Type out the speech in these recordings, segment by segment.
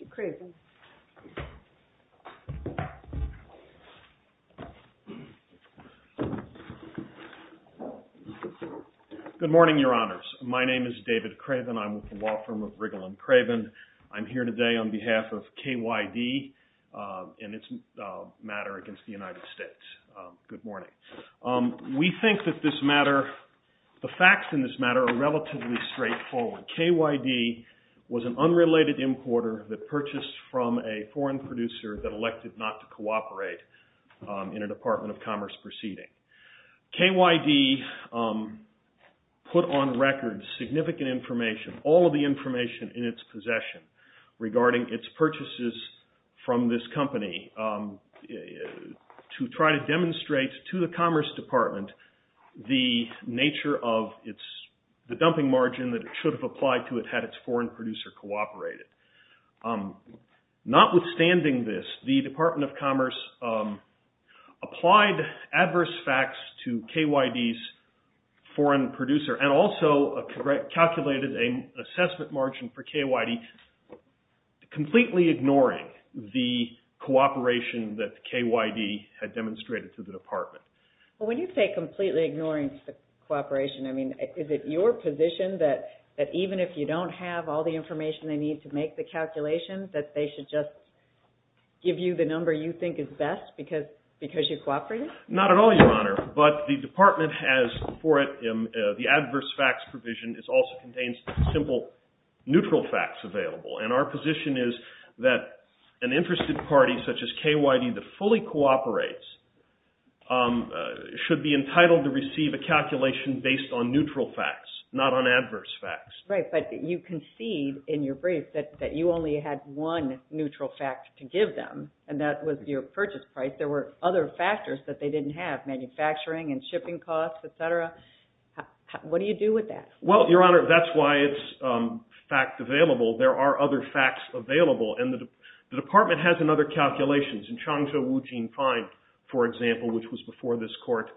Mr. Craven Good morning, your honors. My name is David Craven. I'm with the law firm of Riggle & Craven. I'm here today on behalf of KYD and its matter against the United States. Good morning. We think that this matter, the facts in this a foreign producer that elected not to cooperate in a Department of Commerce proceeding. KYD put on record significant information, all of the information in its possession regarding its purchases from this company to try to demonstrate to the Commerce Department the nature of its, dumping margin that it should have applied to it had its foreign producer cooperated. Not withstanding this, the Department of Commerce applied adverse facts to KYD's foreign producer and also calculated an assessment margin for KYD, completely ignoring the cooperation that KYD had demonstrated to the department. When you say completely ignoring cooperation, I mean is it your position that even if you don't have all the information they need to make the calculations, that they should just give you the number you think is best because you cooperated? Not at all, your honor, but the department has for it the adverse facts provision. It also contains simple neutral facts available and our position is that an interested party such as KYD that fully cooperates should be entitled to receive a calculation based on neutral facts, not on adverse facts. Right, but you concede in your brief that you only had one neutral fact to give them and that was your purchase price. There were other factors that they didn't have, manufacturing and shipping costs, etc. What do you do with that? Well, your honor, that's why it's fact available. There are other facts available and the department has another calculations in Changzhou-Wujing Pine, for example, which was before this court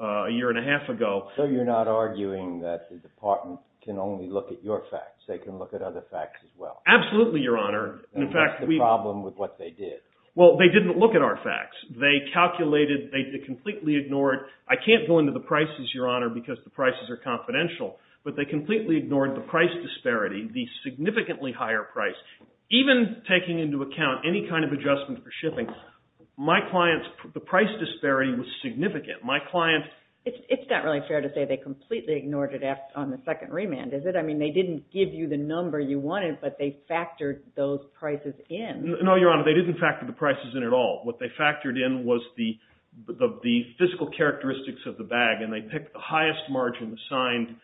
a year and a half ago. So you're not arguing that the department can only look at your facts, they can look at other facts as well? Absolutely, your honor. And what's the problem with what they did? Well, they didn't look at our facts. They calculated, they completely ignored, I can't go into the prices, your honor, because the prices are confidential, but they completely ignored the price disparity, the significantly higher price. Even taking into account any kind of adjustment for shipping, my client's price disparity was significant. It's not really fair to say they completely ignored it on the second remand, is it? I mean, they didn't give you the number you wanted, but they factored those prices in. No, your honor, they didn't factor the prices in at all. What they factored in was the physical characteristics of the bag, and they picked the highest margin assigned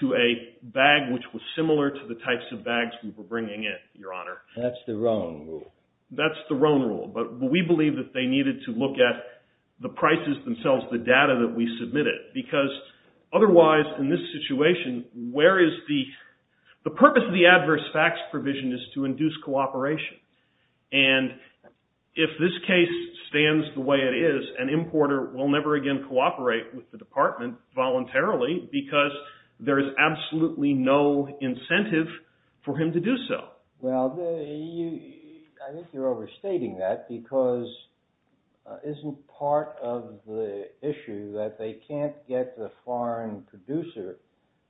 to a bag which was similar to the types of bags we were bringing in, your honor. That's the Roan rule. That's the Roan rule, but we believe that they needed to look at the prices themselves, the data that we submitted, because otherwise, in this situation, where is the – the purpose of the adverse facts provision is to induce cooperation. And if this case stands the way it is, an importer will never again cooperate with the department voluntarily, because there is absolutely no incentive for him to do so. Well, I think you're overstating that, because isn't part of the issue that they can't get the foreign producer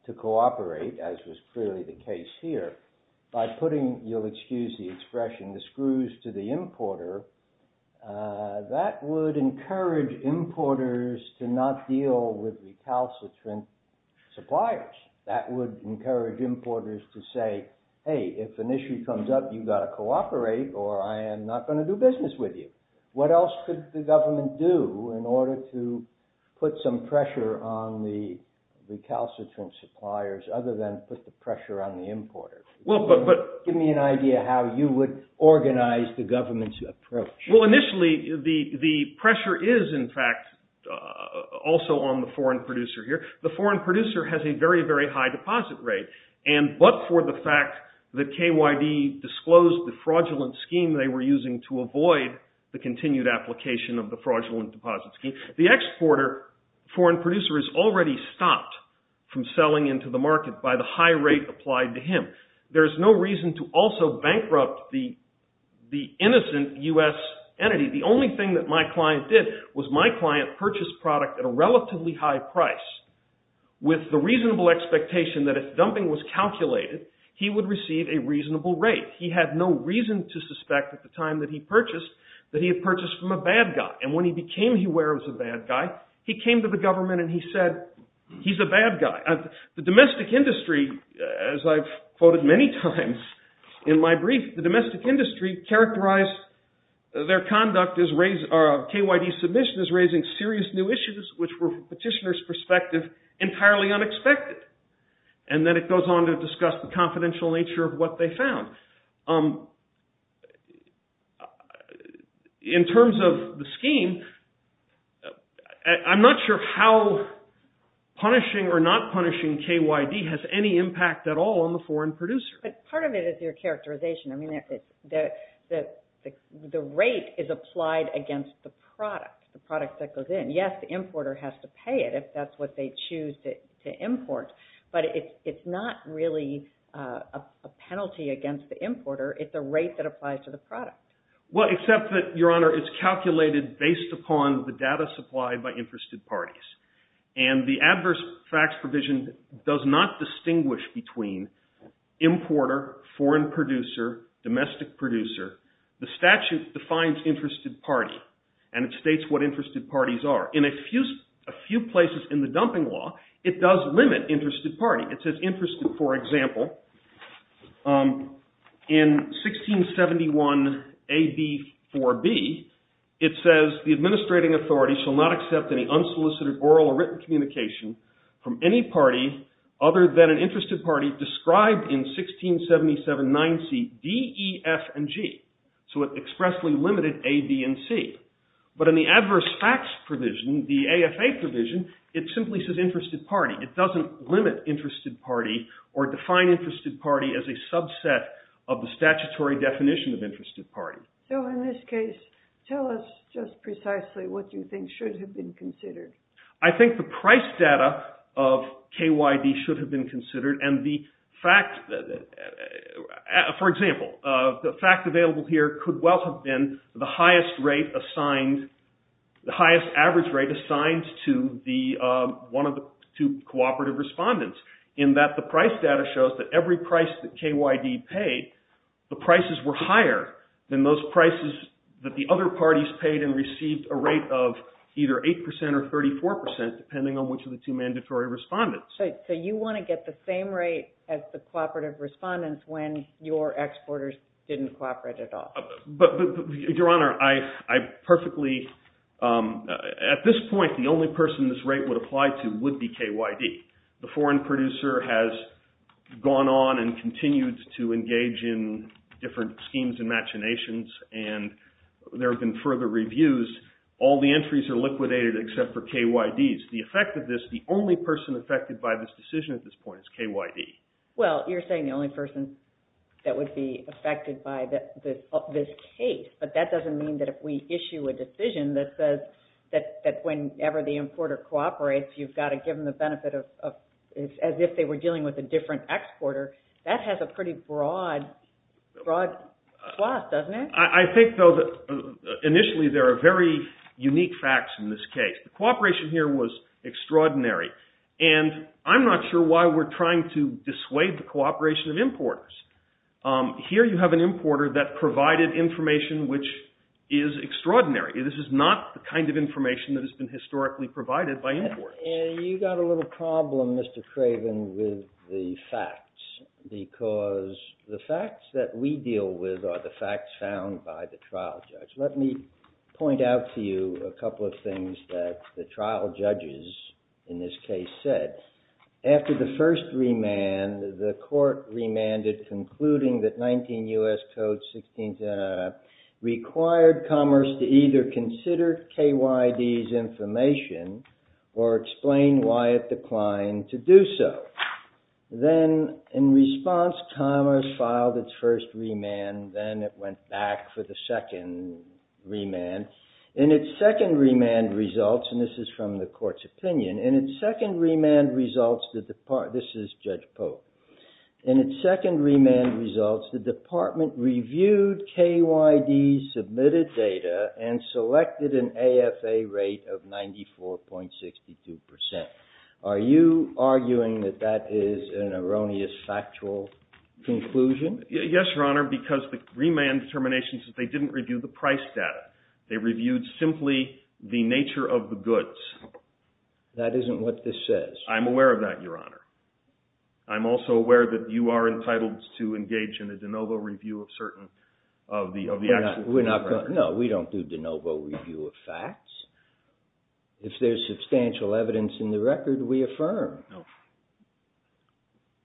to cooperate, as was clearly the case here, by putting – you'll excuse the expression – the screws to the importer. That would encourage importers to not deal with recalcitrant suppliers. That would encourage importers to say, hey, if an issue comes up, you've got to cooperate, or I am not going to do business with you. What else could the government do in order to put some pressure on the recalcitrant suppliers, other than put the pressure on the importer? Give me an idea how you would organize the government's approach. Well, initially, the pressure is, in fact, also on the foreign producer here. The foreign producer has a very, very high deposit rate, but for the fact that KYD disclosed the fraudulent scheme they were using to avoid the continued application of the fraudulent deposit scheme. The exporter, foreign producer, is already stopped from selling into the market by the high rate applied to him. There is no reason to also bankrupt the innocent U.S. entity. The only thing that my client did was my client purchased product at a relatively high price, with the reasonable expectation that if dumping was calculated, he would receive a reasonable rate. He had no reason to suspect at the time that he purchased that he had purchased from a bad guy. And when he became aware he was a bad guy, he came to the government and he said, he's a bad guy. The domestic industry, as I've quoted many times in my brief, the domestic industry characterized their conduct as, KYD's submission is raising serious new issues, which were, from the petitioner's perspective, entirely unexpected. And then it goes on to discuss the confidential nature of what they found. In terms of the scheme, I'm not sure how punishing or not punishing KYD has any impact at all on the foreign producer. But part of it is your characterization. I mean, the rate is applied against the product, the product that goes in. Yes, the importer has to pay it if that's what they choose to import. But it's not really a penalty against the importer. It's a rate that applies to the product. Well, except that, Your Honor, it's calculated based upon the data supplied by interested parties. And the adverse facts provision does not distinguish between importer, foreign producer, domestic producer. The statute defines interested party, and it states what interested parties are. In a few places in the dumping law, it does limit interested party. It says interested, for example, in 1671 AB 4B, it says, the administrating authority shall not accept any unsolicited oral or written communication from any party other than an interested party described in 1677 9C D, E, F, and G. So it expressly limited A, B, and C. But in the adverse facts provision, the AFA provision, it simply says interested party. It doesn't limit interested party or define interested party as a subset of the statutory definition of interested party. So in this case, tell us just precisely what you think should have been considered. I think the price data of KYB should have been considered. For example, the fact available here could well have been the highest rate assigned, the highest average rate assigned to one of the two cooperative respondents, in that the price data shows that every price that KYB paid, the prices were higher than those prices that the other parties paid and received a rate of either 8% or 34%, depending on which of the two mandatory respondents. So you want to get the same rate as the cooperative respondents when your exporters didn't cooperate at all? Your Honor, I perfectly – at this point, the only person this rate would apply to would be KYB. The foreign producer has gone on and continued to engage in different schemes and machinations, and there have been further reviews. All the entries are liquidated except for KYB's. The effect of this, the only person affected by this decision at this point is KYB. Well, you're saying the only person that would be affected by this case, but that doesn't mean that if we issue a decision that says that whenever the importer cooperates, you've got to give them the benefit of – as if they were dealing with a different exporter. That has a pretty broad clause, doesn't it? I think, though, that initially there are very unique facts in this case. The cooperation here was extraordinary, and I'm not sure why we're trying to dissuade the cooperation of importers. Here you have an importer that provided information which is extraordinary. This is not the kind of information that has been historically provided by importers. You've got a little problem, Mr. Craven, with the facts, because the facts that we deal with are the facts found by the trial judge. Let me point out to you a couple of things that the trial judges in this case said. After the first remand, the court remanded, concluding that 19 U.S. Code 16, required commerce to either consider KYB's information or explain why it declined to do so. Then, in response, commerce filed its first remand. Then it went back for the second remand. In its second remand results – and this is from the court's opinion – in its second remand results, the – this is Judge Polk – in its second remand results, the department reviewed KYB's submitted data and selected an AFA rate of 94.62 percent. Are you arguing that that is an erroneous factual conclusion? Yes, Your Honor, because the remand determination says they didn't review the price data. They reviewed simply the nature of the goods. That isn't what this says. I'm aware of that, Your Honor. I'm also aware that you are entitled to engage in a de novo review of certain – of the – No, we don't do de novo review of facts. If there's substantial evidence in the record, we affirm. No.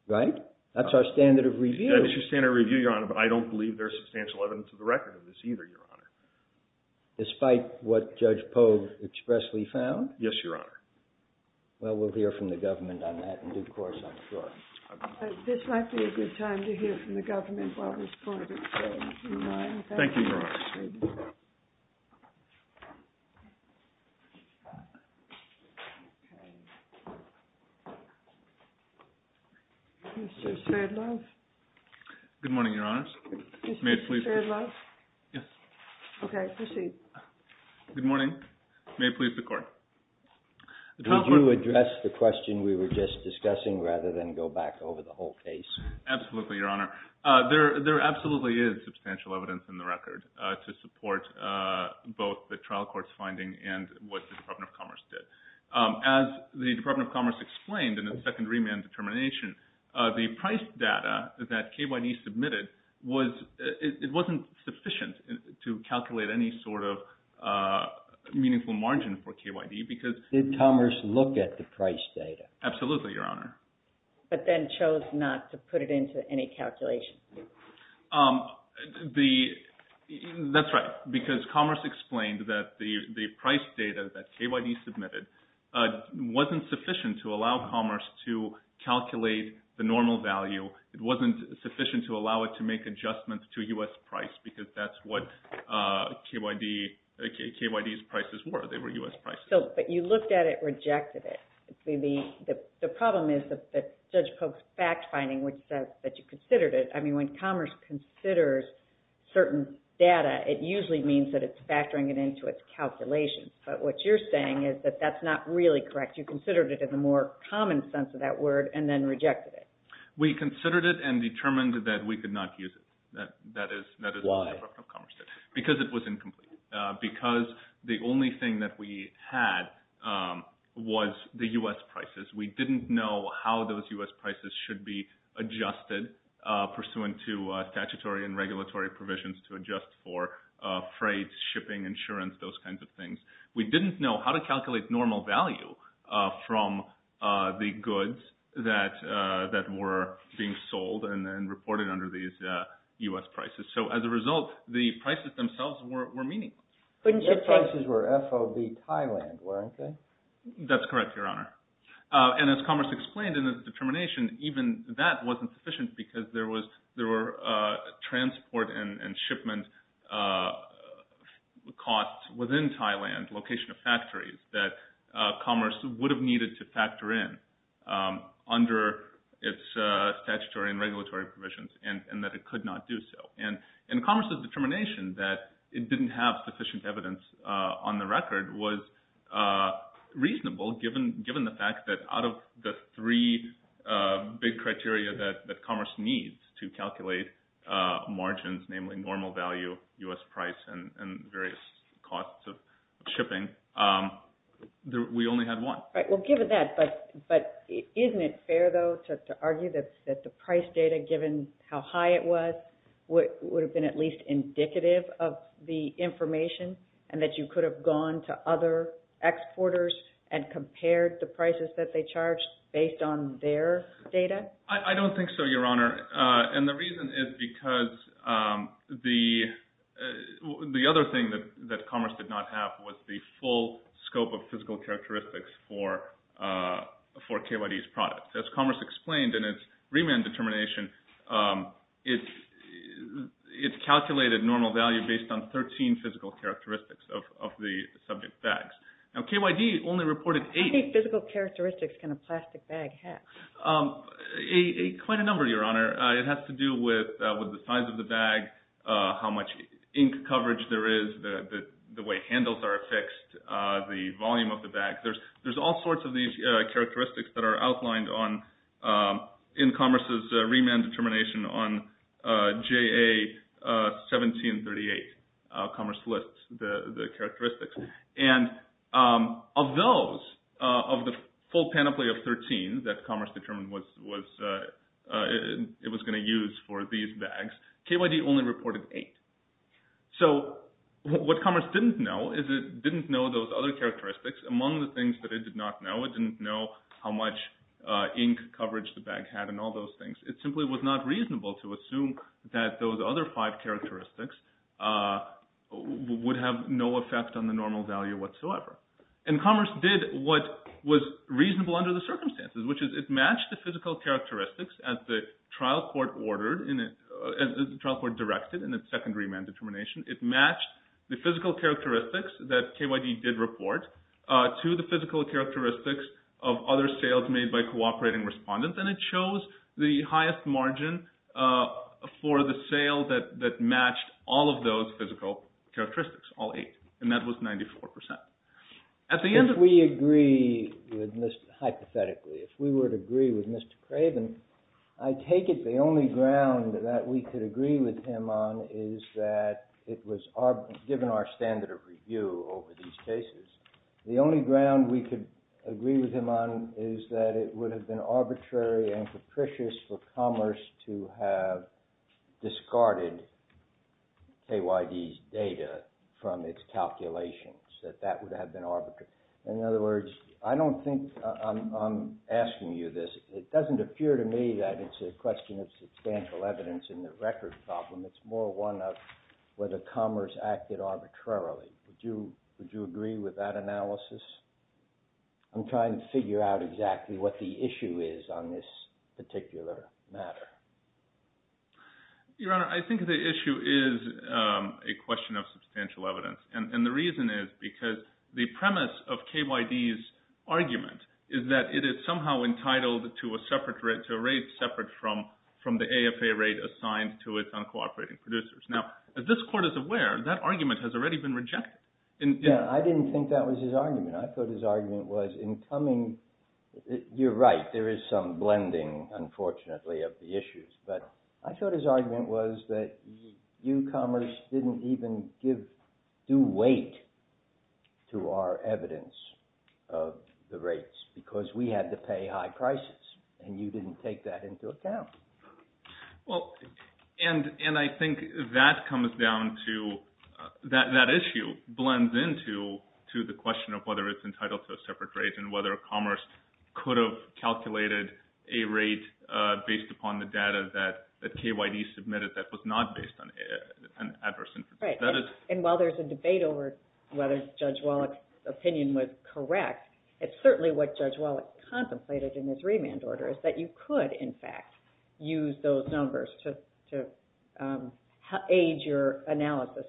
Right? That's our standard of review. That is your standard of review, Your Honor, but I don't believe there's substantial evidence in the record of this either, Your Honor. Despite what Judge Polk expressly found? Yes, Your Honor. Well, we'll hear from the government on that in due course on the floor. This might be a good time to hear from the government while this court is in line. Thank you, Your Honor. Okay. Mr. Sherdlove? Good morning, Your Honors. Mr. Sherdlove? Yes. Okay, proceed. Good morning. May it please the Court. Would you address the question we were just discussing rather than go back over the whole case? Absolutely, Your Honor. There absolutely is substantial evidence in the record to support both the trial court's finding and what the Department of Commerce did. As the Department of Commerce explained in its second remand determination, the price data that KYD submitted wasn't sufficient to calculate any sort of meaningful margin for KYD because Did Commerce look at the price data? Absolutely, Your Honor. But then chose not to put it into any calculation? That's right, because Commerce explained that the price data that KYD submitted wasn't sufficient to allow Commerce to calculate the normal value. It wasn't sufficient to allow it to make adjustments to U.S. price because that's what KYD's prices were. They were U.S. prices. But you looked at it, rejected it. The problem is that Judge Polk's fact-finding which says that you considered it. I mean, when Commerce considers certain data, it usually means that it's factoring it into its calculations. But what you're saying is that that's not really correct. You considered it in the more common sense of that word and then rejected it. We considered it and determined that we could not use it. Why? Because it was incomplete. Because the only thing that we had was the U.S. prices. We didn't know how those U.S. prices should be adjusted pursuant to statutory and regulatory provisions to adjust for freight, shipping, insurance, those kinds of things. We didn't know how to calculate normal value from the goods that were being sold and reported under these U.S. prices. So as a result, the prices themselves were meaningless. But U.S. prices were FOB Thailand, weren't they? That's correct, Your Honor. And as Commerce explained in its determination, even that wasn't sufficient because there were transport and shipment costs within Thailand, location of factories, that Commerce would have needed to factor in under its statutory and regulatory provisions and that it could not do so. And Commerce's determination that it didn't have sufficient evidence on the record was reasonable, given the fact that out of the three big criteria that Commerce needs to calculate margins, namely normal value, U.S. price, and various costs of shipping, we only had one. Well, given that, but isn't it fair, though, to argue that the price data, given how high it was, would have been at least indicative of the information and that you could have gone to other exporters and compared the prices that they charged based on their data? I don't think so, Your Honor. And the reason is because the other thing that Commerce did not have was the full scope of physical characteristics for KYD's products. As Commerce explained in its remand determination, it calculated normal value based on 13 physical characteristics of the subject bags. Now, KYD only reported eight. How many physical characteristics can a plastic bag have? Quite a number, Your Honor. It has to do with the size of the bag, how much ink coverage there is, the way handles are affixed, the volume of the bag. There's all sorts of these characteristics that are outlined in Commerce's remand determination on JA 1738. Commerce lists the characteristics. And of those, of the full panoply of 13 that Commerce determined it was going to use for these bags, KYD only reported eight. So what Commerce didn't know is it didn't know those other characteristics. Among the things that it did not know, it didn't know how much ink coverage the bag had and all those things. It simply was not reasonable to assume that those other five characteristics would have no effect on the normal value whatsoever. And Commerce did what was reasonable under the circumstances, which is it matched the physical characteristics as the trial court ordered, as the trial court directed in its second remand determination. It matched the physical characteristics that KYD did report to the physical characteristics of other sales made by cooperating respondents. And it chose the highest margin for the sale that matched all of those physical characteristics, all eight. And that was 94%. At the end of— If we agree with Mr. — hypothetically, if we were to agree with Mr. Craven, I take it the only ground that we could agree with him on is that it was given our standard of review over these cases. The only ground we could agree with him on is that it would have been arbitrary and capricious for Commerce to have discarded KYD's data from its calculations, that that would have been arbitrary. In other words, I don't think I'm asking you this. It doesn't appear to me that it's a question of substantial evidence in the record problem. It's more one of whether Commerce acted arbitrarily. Would you agree with that analysis? I'm trying to figure out exactly what the issue is on this particular matter. Your Honor, I think the issue is a question of substantial evidence. And the reason is because the premise of KYD's argument is that it is somehow entitled to a separate rate, to a rate separate from the AFA rate assigned to its uncooperative producers. Now, as this Court is aware, that argument has already been rejected. Yeah, I didn't think that was his argument. I thought his argument was in coming — you're right, there is some blending, unfortunately, of the issues. But I thought his argument was that you, Commerce, didn't even give due weight to our evidence of the rates because we had to pay high prices, and you didn't take that into account. Well, and I think that comes down to — that issue blends into the question of whether it's entitled to a separate rate and whether Commerce could have calculated a rate based upon the data that KYD submitted that was not based on adverse information. Right, and while there's a debate over whether Judge Wallach's opinion was correct, it's certainly what Judge Wallach contemplated in his remand order is that you could, in fact, use those numbers to aid your analysis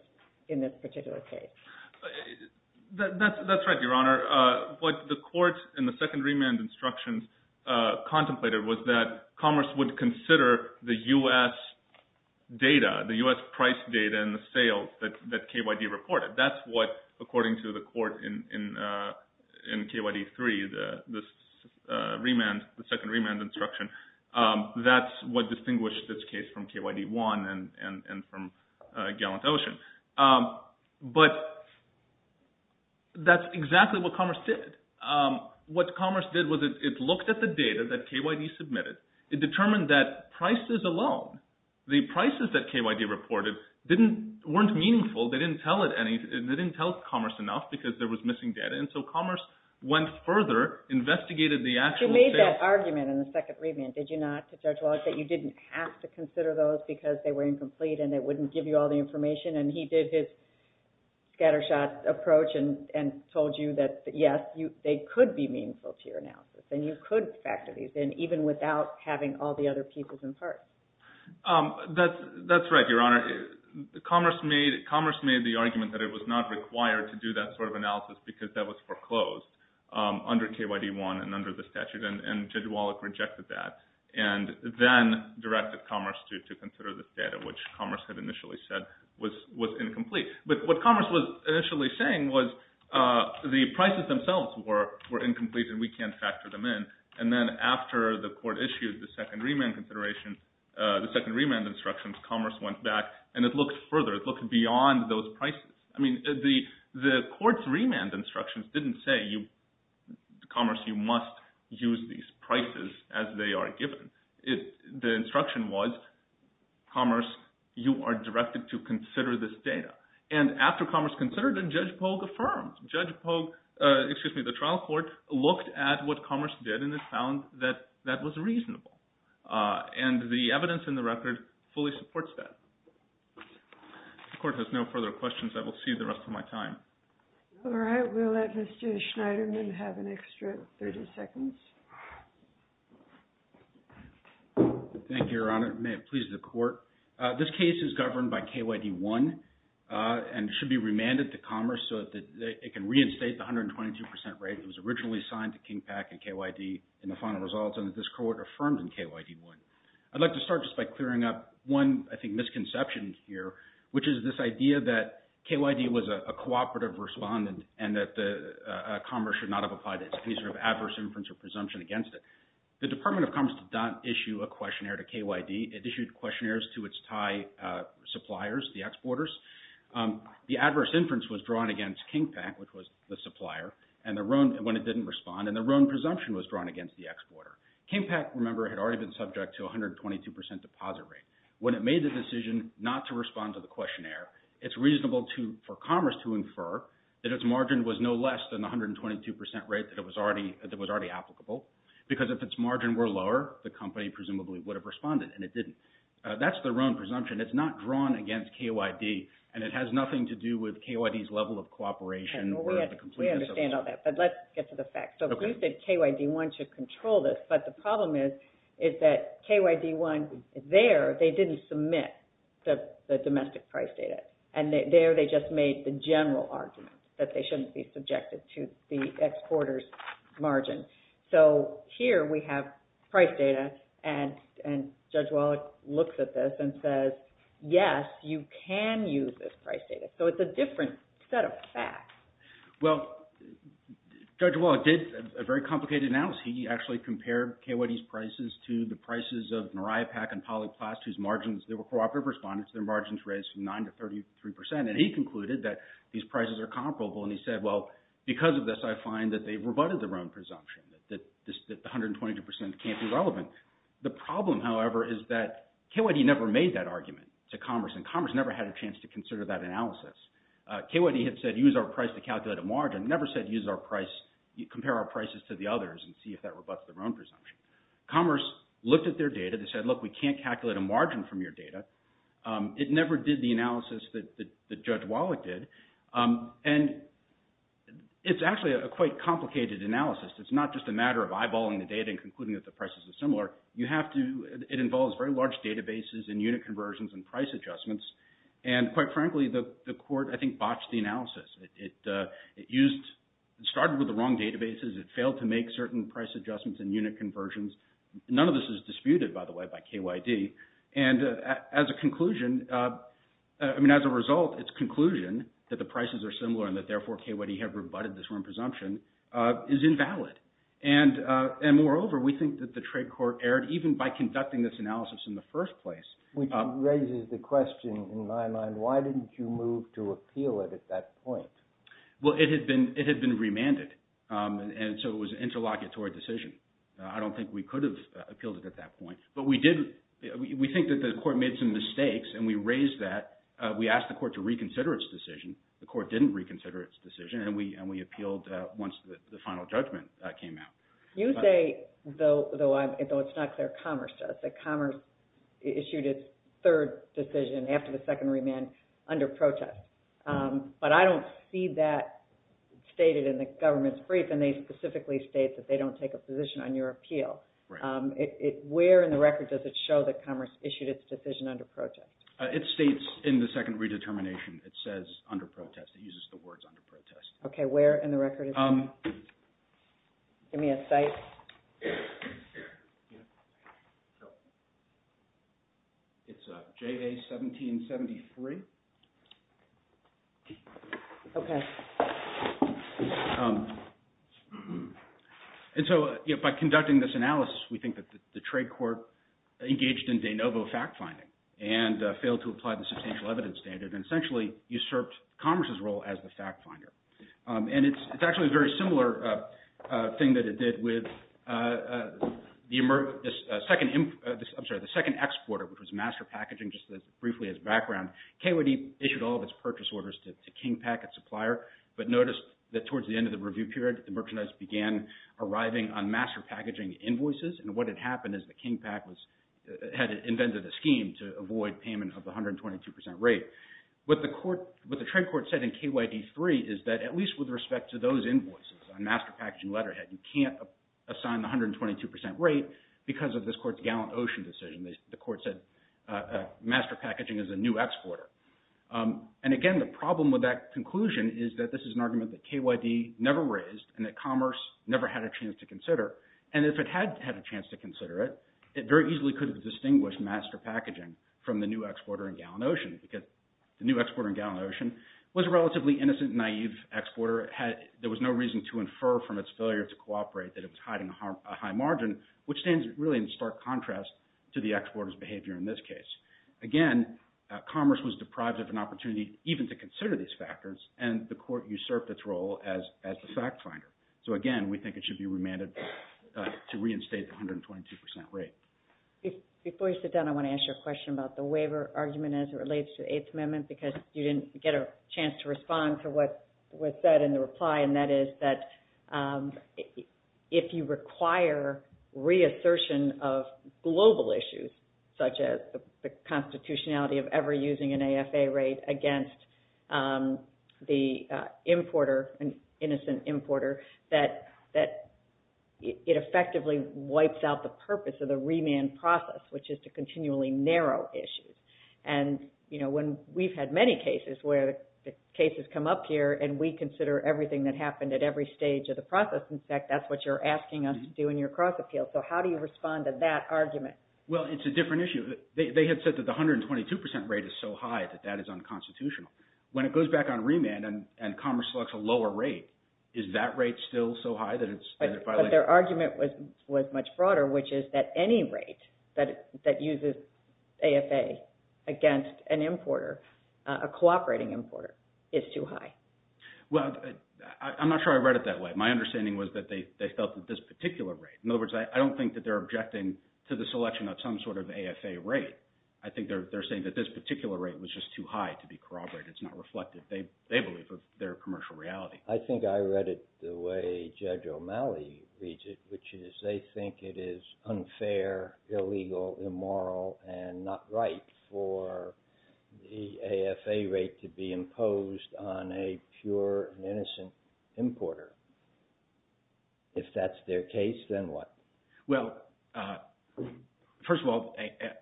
in this particular case. That's right, Your Honor. What the Court in the second remand instruction contemplated was that Commerce would consider the U.S. data, the U.S. price data and the sales that KYD reported. That's what, according to the Court in KYD-3, the second remand instruction, that's what distinguished this case from KYD-1 and from Gallant Ocean. But that's exactly what Commerce did. What Commerce did was it looked at the data that KYD submitted. It determined that prices alone, the prices that KYD reported, weren't meaningful. They didn't tell Commerce enough because there was missing data, and so Commerce went further, investigated the actual — But you made that argument in the second remand, did you not, to Judge Wallach, that you didn't have to consider those because they were incomplete and it wouldn't give you all the information? And he did his scattershot approach and told you that, yes, they could be meaningful to your analysis, and you could factor these in even without having all the other peoples in part. That's right, Your Honor. Commerce made the argument that it was not required to do that sort of analysis because that was foreclosed under KYD-1 and under the statute. And Judge Wallach rejected that and then directed Commerce to consider this data, which Commerce had initially said was incomplete. But what Commerce was initially saying was the prices themselves were incomplete and we can't factor them in. And then after the court issued the second remand consideration, the second remand instructions, Commerce went back and it looked further. It looked beyond those prices. I mean, the court's remand instructions didn't say, Commerce, you must use these prices as they are given. The instruction was, Commerce, you are directed to consider this data. And after Commerce considered it, Judge Pogue affirmed. Judge Pogue – excuse me, the trial court looked at what Commerce did and it found that that was reasonable. And the evidence in the record fully supports that. The court has no further questions. I will see you the rest of my time. All right. We'll let Mr. Schneiderman have an extra 30 seconds. Thank you, Your Honor. May it please the court. This case is governed by KYD-1 and should be remanded to Commerce so that it can reinstate the 122 percent rate that was originally signed to Kingpac and KYD in the final results and that this court affirmed in KYD-1. I'd like to start just by clearing up one, I think, misconception here, which is this idea that KYD was a cooperative respondent and that Commerce should not have applied any sort of adverse inference or presumption against it. The Department of Commerce did not issue a questionnaire to KYD. It issued questionnaires to its Thai suppliers, the exporters. The adverse inference was drawn against Kingpac, which was the supplier, when it didn't respond, and their own presumption was drawn against the exporter. Kingpac, remember, had already been subject to a 122 percent deposit rate. When it made the decision not to respond to the questionnaire, it's reasonable for Commerce to infer that its margin was no less than the 122 percent rate that was already applicable, because if its margin were lower, the company presumably would have responded, and it didn't. That's their own presumption. It's not drawn against KYD, and it has nothing to do with KYD's level of cooperation. We understand all that, but let's get to the facts. So you said KYD 1 should control this, but the problem is that KYD 1 there, they didn't submit the domestic price data, and there they just made the general argument that they shouldn't be subjected to the exporter's margin. So here we have price data, and Judge Wallach looks at this and says, yes, you can use this price data. So it's a different set of facts. Well, Judge Wallach did a very complicated analysis. He actually compared KYD's prices to the prices of Maripac and Polyplast, whose margins – they were cooperative responders. Their margins raised from 9 to 33 percent, and he concluded that these prices are comparable, and he said, well, because of this, I find that they've rebutted their own presumption, that the 122 percent can't be relevant. The problem, however, is that KYD never made that argument to Commerce, and Commerce never had a chance to consider that analysis. KYD had said use our price to calculate a margin, never said use our price – compare our prices to the others and see if that rebuts their own presumption. Commerce looked at their data. They said, look, we can't calculate a margin from your data. It never did the analysis that Judge Wallach did, and it's actually a quite complicated analysis. It's not just a matter of eyeballing the data and concluding that the prices are similar. You have to – it involves very large databases and unit conversions and price adjustments, and quite frankly, the court, I think, botched the analysis. It started with the wrong databases. It failed to make certain price adjustments and unit conversions. None of this is disputed, by the way, by KYD. And as a conclusion – I mean, as a result, its conclusion that the prices are similar and that therefore KYD had rebutted this wrong presumption is invalid. And moreover, we think that the trade court erred even by conducting this analysis in the first place. Which raises the question in my mind, why didn't you move to appeal it at that point? Well, it had been remanded, and so it was an interlocutory decision. I don't think we could have appealed it at that point. But we did – we think that the court made some mistakes, and we raised that. We asked the court to reconsider its decision. The court didn't reconsider its decision, and we appealed once the final judgment came out. You say, though it's not clear Commerce does, that Commerce issued its third decision after the second remand under protest. But I don't see that stated in the government's brief, and they specifically state that they don't take a position on your appeal. Where in the record does it show that Commerce issued its decision under protest? It states in the second redetermination. It says under protest. It uses the words under protest. Okay, where in the record is that? Give me a cite. It's J.A. 1773. Okay. And so by conducting this analysis, we think that the trade court engaged in de novo fact-finding and failed to apply the substantial evidence standard and essentially usurped Commerce's role as the fact-finder. And it's actually a very similar thing that it did with the second – I'm sorry, the second exporter, which was Master Packaging, just briefly as background. KOD issued all of its purchase orders to Kingpac, its supplier, but noticed that towards the end of the review period, the merchandise began arriving on Master Packaging invoices, and what had happened is that Kingpac was – What the trade court said in KYD 3 is that at least with respect to those invoices on Master Packaging letterhead, you can't assign the 122 percent rate because of this court's Gallant Ocean decision. The court said Master Packaging is a new exporter. And again, the problem with that conclusion is that this is an argument that KYD never raised and that Commerce never had a chance to consider. And if it had had a chance to consider it, it very easily could have distinguished Master Packaging from the new exporter in Gallant Ocean because the new exporter in Gallant Ocean was a relatively innocent, naive exporter. There was no reason to infer from its failure to cooperate that it was hiding a high margin, which stands really in stark contrast to the exporter's behavior in this case. Again, Commerce was deprived of an opportunity even to consider these factors, and the court usurped its role as the fact finder. So again, we think it should be remanded to reinstate the 122 percent rate. Before you sit down, I want to ask you a question about the waiver argument as it relates to the Eighth Amendment because you didn't get a chance to respond to what was said in the reply, and that is that if you require reassertion of global issues, such as the constitutionality of ever using an AFA rate against the importer, an innocent importer, that it effectively wipes out the purpose of the remand process, which is to continually narrow issues. And we've had many cases where cases come up here, and we consider everything that happened at every stage of the process. In fact, that's what you're asking us to do in your cross-appeal. So how do you respond to that argument? Well, it's a different issue. They had said that the 122 percent rate is so high that that is unconstitutional. When it goes back on remand and Commerce selects a lower rate, is that rate still so high that it's violated? But their argument was much broader, which is that any rate that uses AFA against an importer, a cooperating importer, is too high. Well, I'm not sure I read it that way. My understanding was that they felt that this particular rate – in other words, I don't think that they're objecting to the selection of some sort of AFA rate. I think they're saying that this particular rate was just too high to be corroborated. It's not reflected, they believe, of their commercial reality. I think I read it the way Judge O'Malley reads it, which is they think it is unfair, illegal, immoral, and not right for the AFA rate to be imposed on a pure and innocent importer. If that's their case, then what? Well, first of all,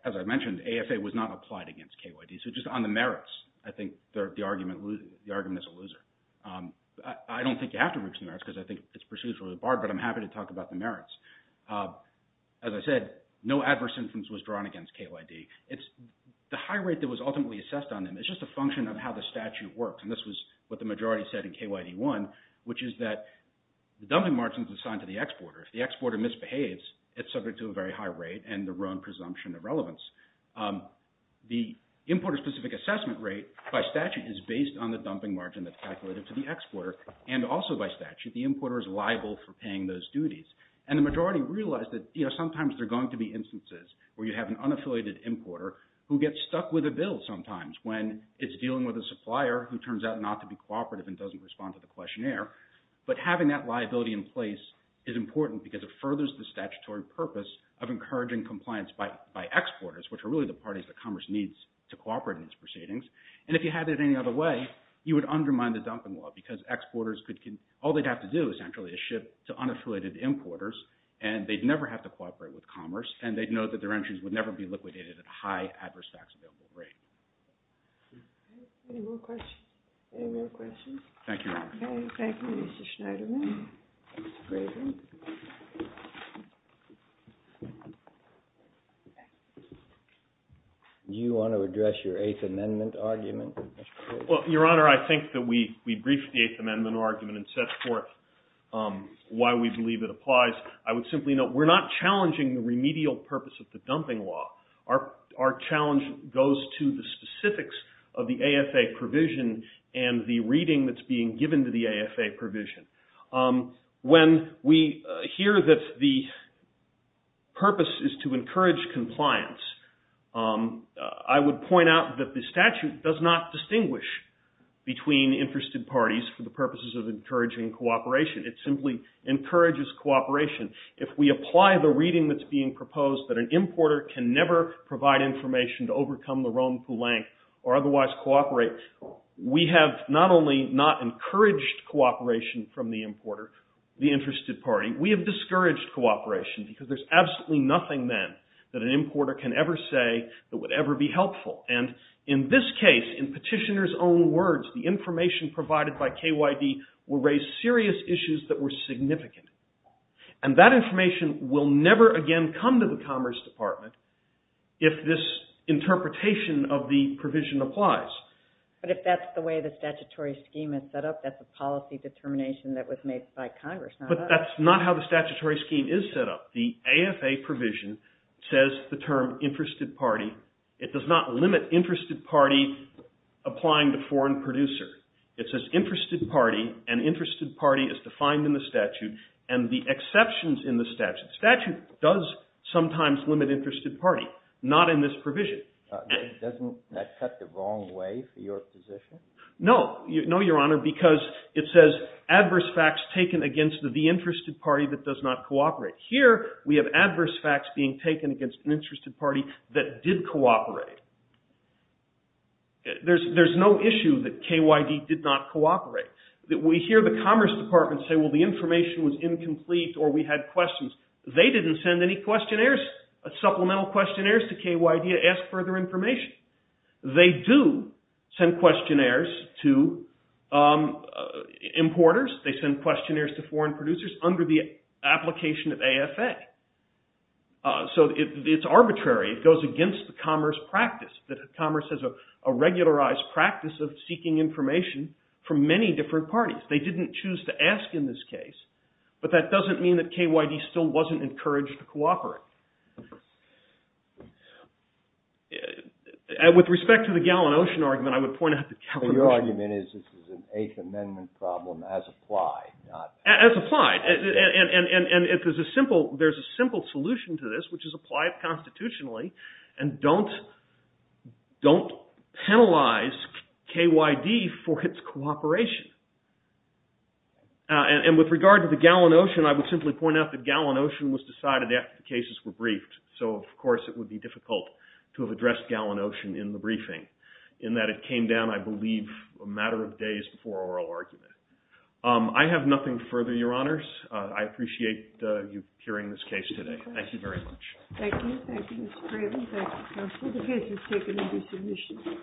as I mentioned, AFA was not applied against KYD. So just on the merits, I think the argument is a loser. I don't think you have to reach the merits because I think it's procedurally barred, but I'm happy to talk about the merits. As I said, no adverse influence was drawn against KYD. The high rate that was ultimately assessed on them is just a function of how the statute works, and this was what the majority said in KYD 1, which is that the dumping margin is assigned to the exporter. If the exporter misbehaves, it's subject to a very high rate and the wrong presumption of relevance. The importer-specific assessment rate by statute is based on the dumping margin that's calculated to the exporter, and also by statute the importer is liable for paying those duties. And the majority realized that sometimes there are going to be instances where you have an unaffiliated importer who gets stuck with a bill sometimes when it's dealing with a supplier who turns out not to be cooperative and doesn't respond to the questionnaire, but having that liability in place is important because it furthers the statutory purpose of encouraging compliance by exporters, which are really the parties that commerce needs to cooperate in these proceedings. And if you had it any other way, you would undermine the dumping law because exporters could – all they'd have to do essentially is ship to unaffiliated importers, and they'd never have to cooperate with commerce, and they'd know that their entries would never be liquidated at a high adverse tax available rate. Any more questions? Any more questions? Thank you, Your Honor. Okay, thank you, Mr. Schneiderman. Mr. Craven. Do you want to address your Eighth Amendment argument, Mr. Craven? Well, Your Honor, I think that we briefed the Eighth Amendment argument and set forth why we believe it applies. I would simply note we're not challenging the remedial purpose of the dumping law. Our challenge goes to the specifics of the AFA provision and the reading that's being given to the AFA provision. When we hear that the purpose is to encourage compliance, I would point out that the statute does not distinguish between interested parties for the purposes of encouraging cooperation. It simply encourages cooperation. If we apply the reading that's being proposed that an importer can never provide information to overcome the Rome Poulenc or otherwise cooperate, we have not only not encouraged cooperation from the importer, the interested party, we have discouraged cooperation because there's absolutely nothing then that an importer can ever say that would ever be helpful. And in this case, in Petitioner's own words, the information provided by KYD will raise serious issues that were significant. And that information will never again come to the Commerce Department if this interpretation of the provision applies. But if that's the way the statutory scheme is set up, that's a policy determination that was made by Congress, not us. But that's not how the statutory scheme is set up. The AFA provision says the term interested party. It does not limit interested party applying to foreign producer. It says interested party, and interested party is defined in the statute, and the exceptions in the statute. Statute does sometimes limit interested party, not in this provision. Doesn't that cut the wrong way for your position? No. No, Your Honor, because it says adverse facts taken against the interested party that does not cooperate. Here we have adverse facts being taken against an interested party that did cooperate. There's no issue that KYD did not cooperate. We hear the Commerce Department say, well, the information was incomplete or we had questions. They didn't send any questionnaires, supplemental questionnaires to KYD to ask further information. They do send questionnaires to importers. They send questionnaires to foreign producers under the application of AFA. So it's arbitrary. It goes against the commerce practice, that commerce has a regularized practice of seeking information from many different parties. They didn't choose to ask in this case, but that doesn't mean that KYD still wasn't encouraged to cooperate. With respect to the Gallon Ocean argument, I would point out that Gallon Ocean— So your argument is this is an Eighth Amendment problem as applied, not— As applied, and there's a simple solution to this, which is apply it constitutionally and don't penalize KYD for its cooperation. And with regard to the Gallon Ocean, I would simply point out that Gallon Ocean was decided after the cases were briefed. So, of course, it would be difficult to have addressed Gallon Ocean in the briefing in that it came down, I believe, a matter of days before oral argument. I have nothing further, Your Honors. I appreciate you hearing this case today. Thank you very much. Thank you. Thank you, Mr. Craven. Thank you, Counsel. The case is taken into submission.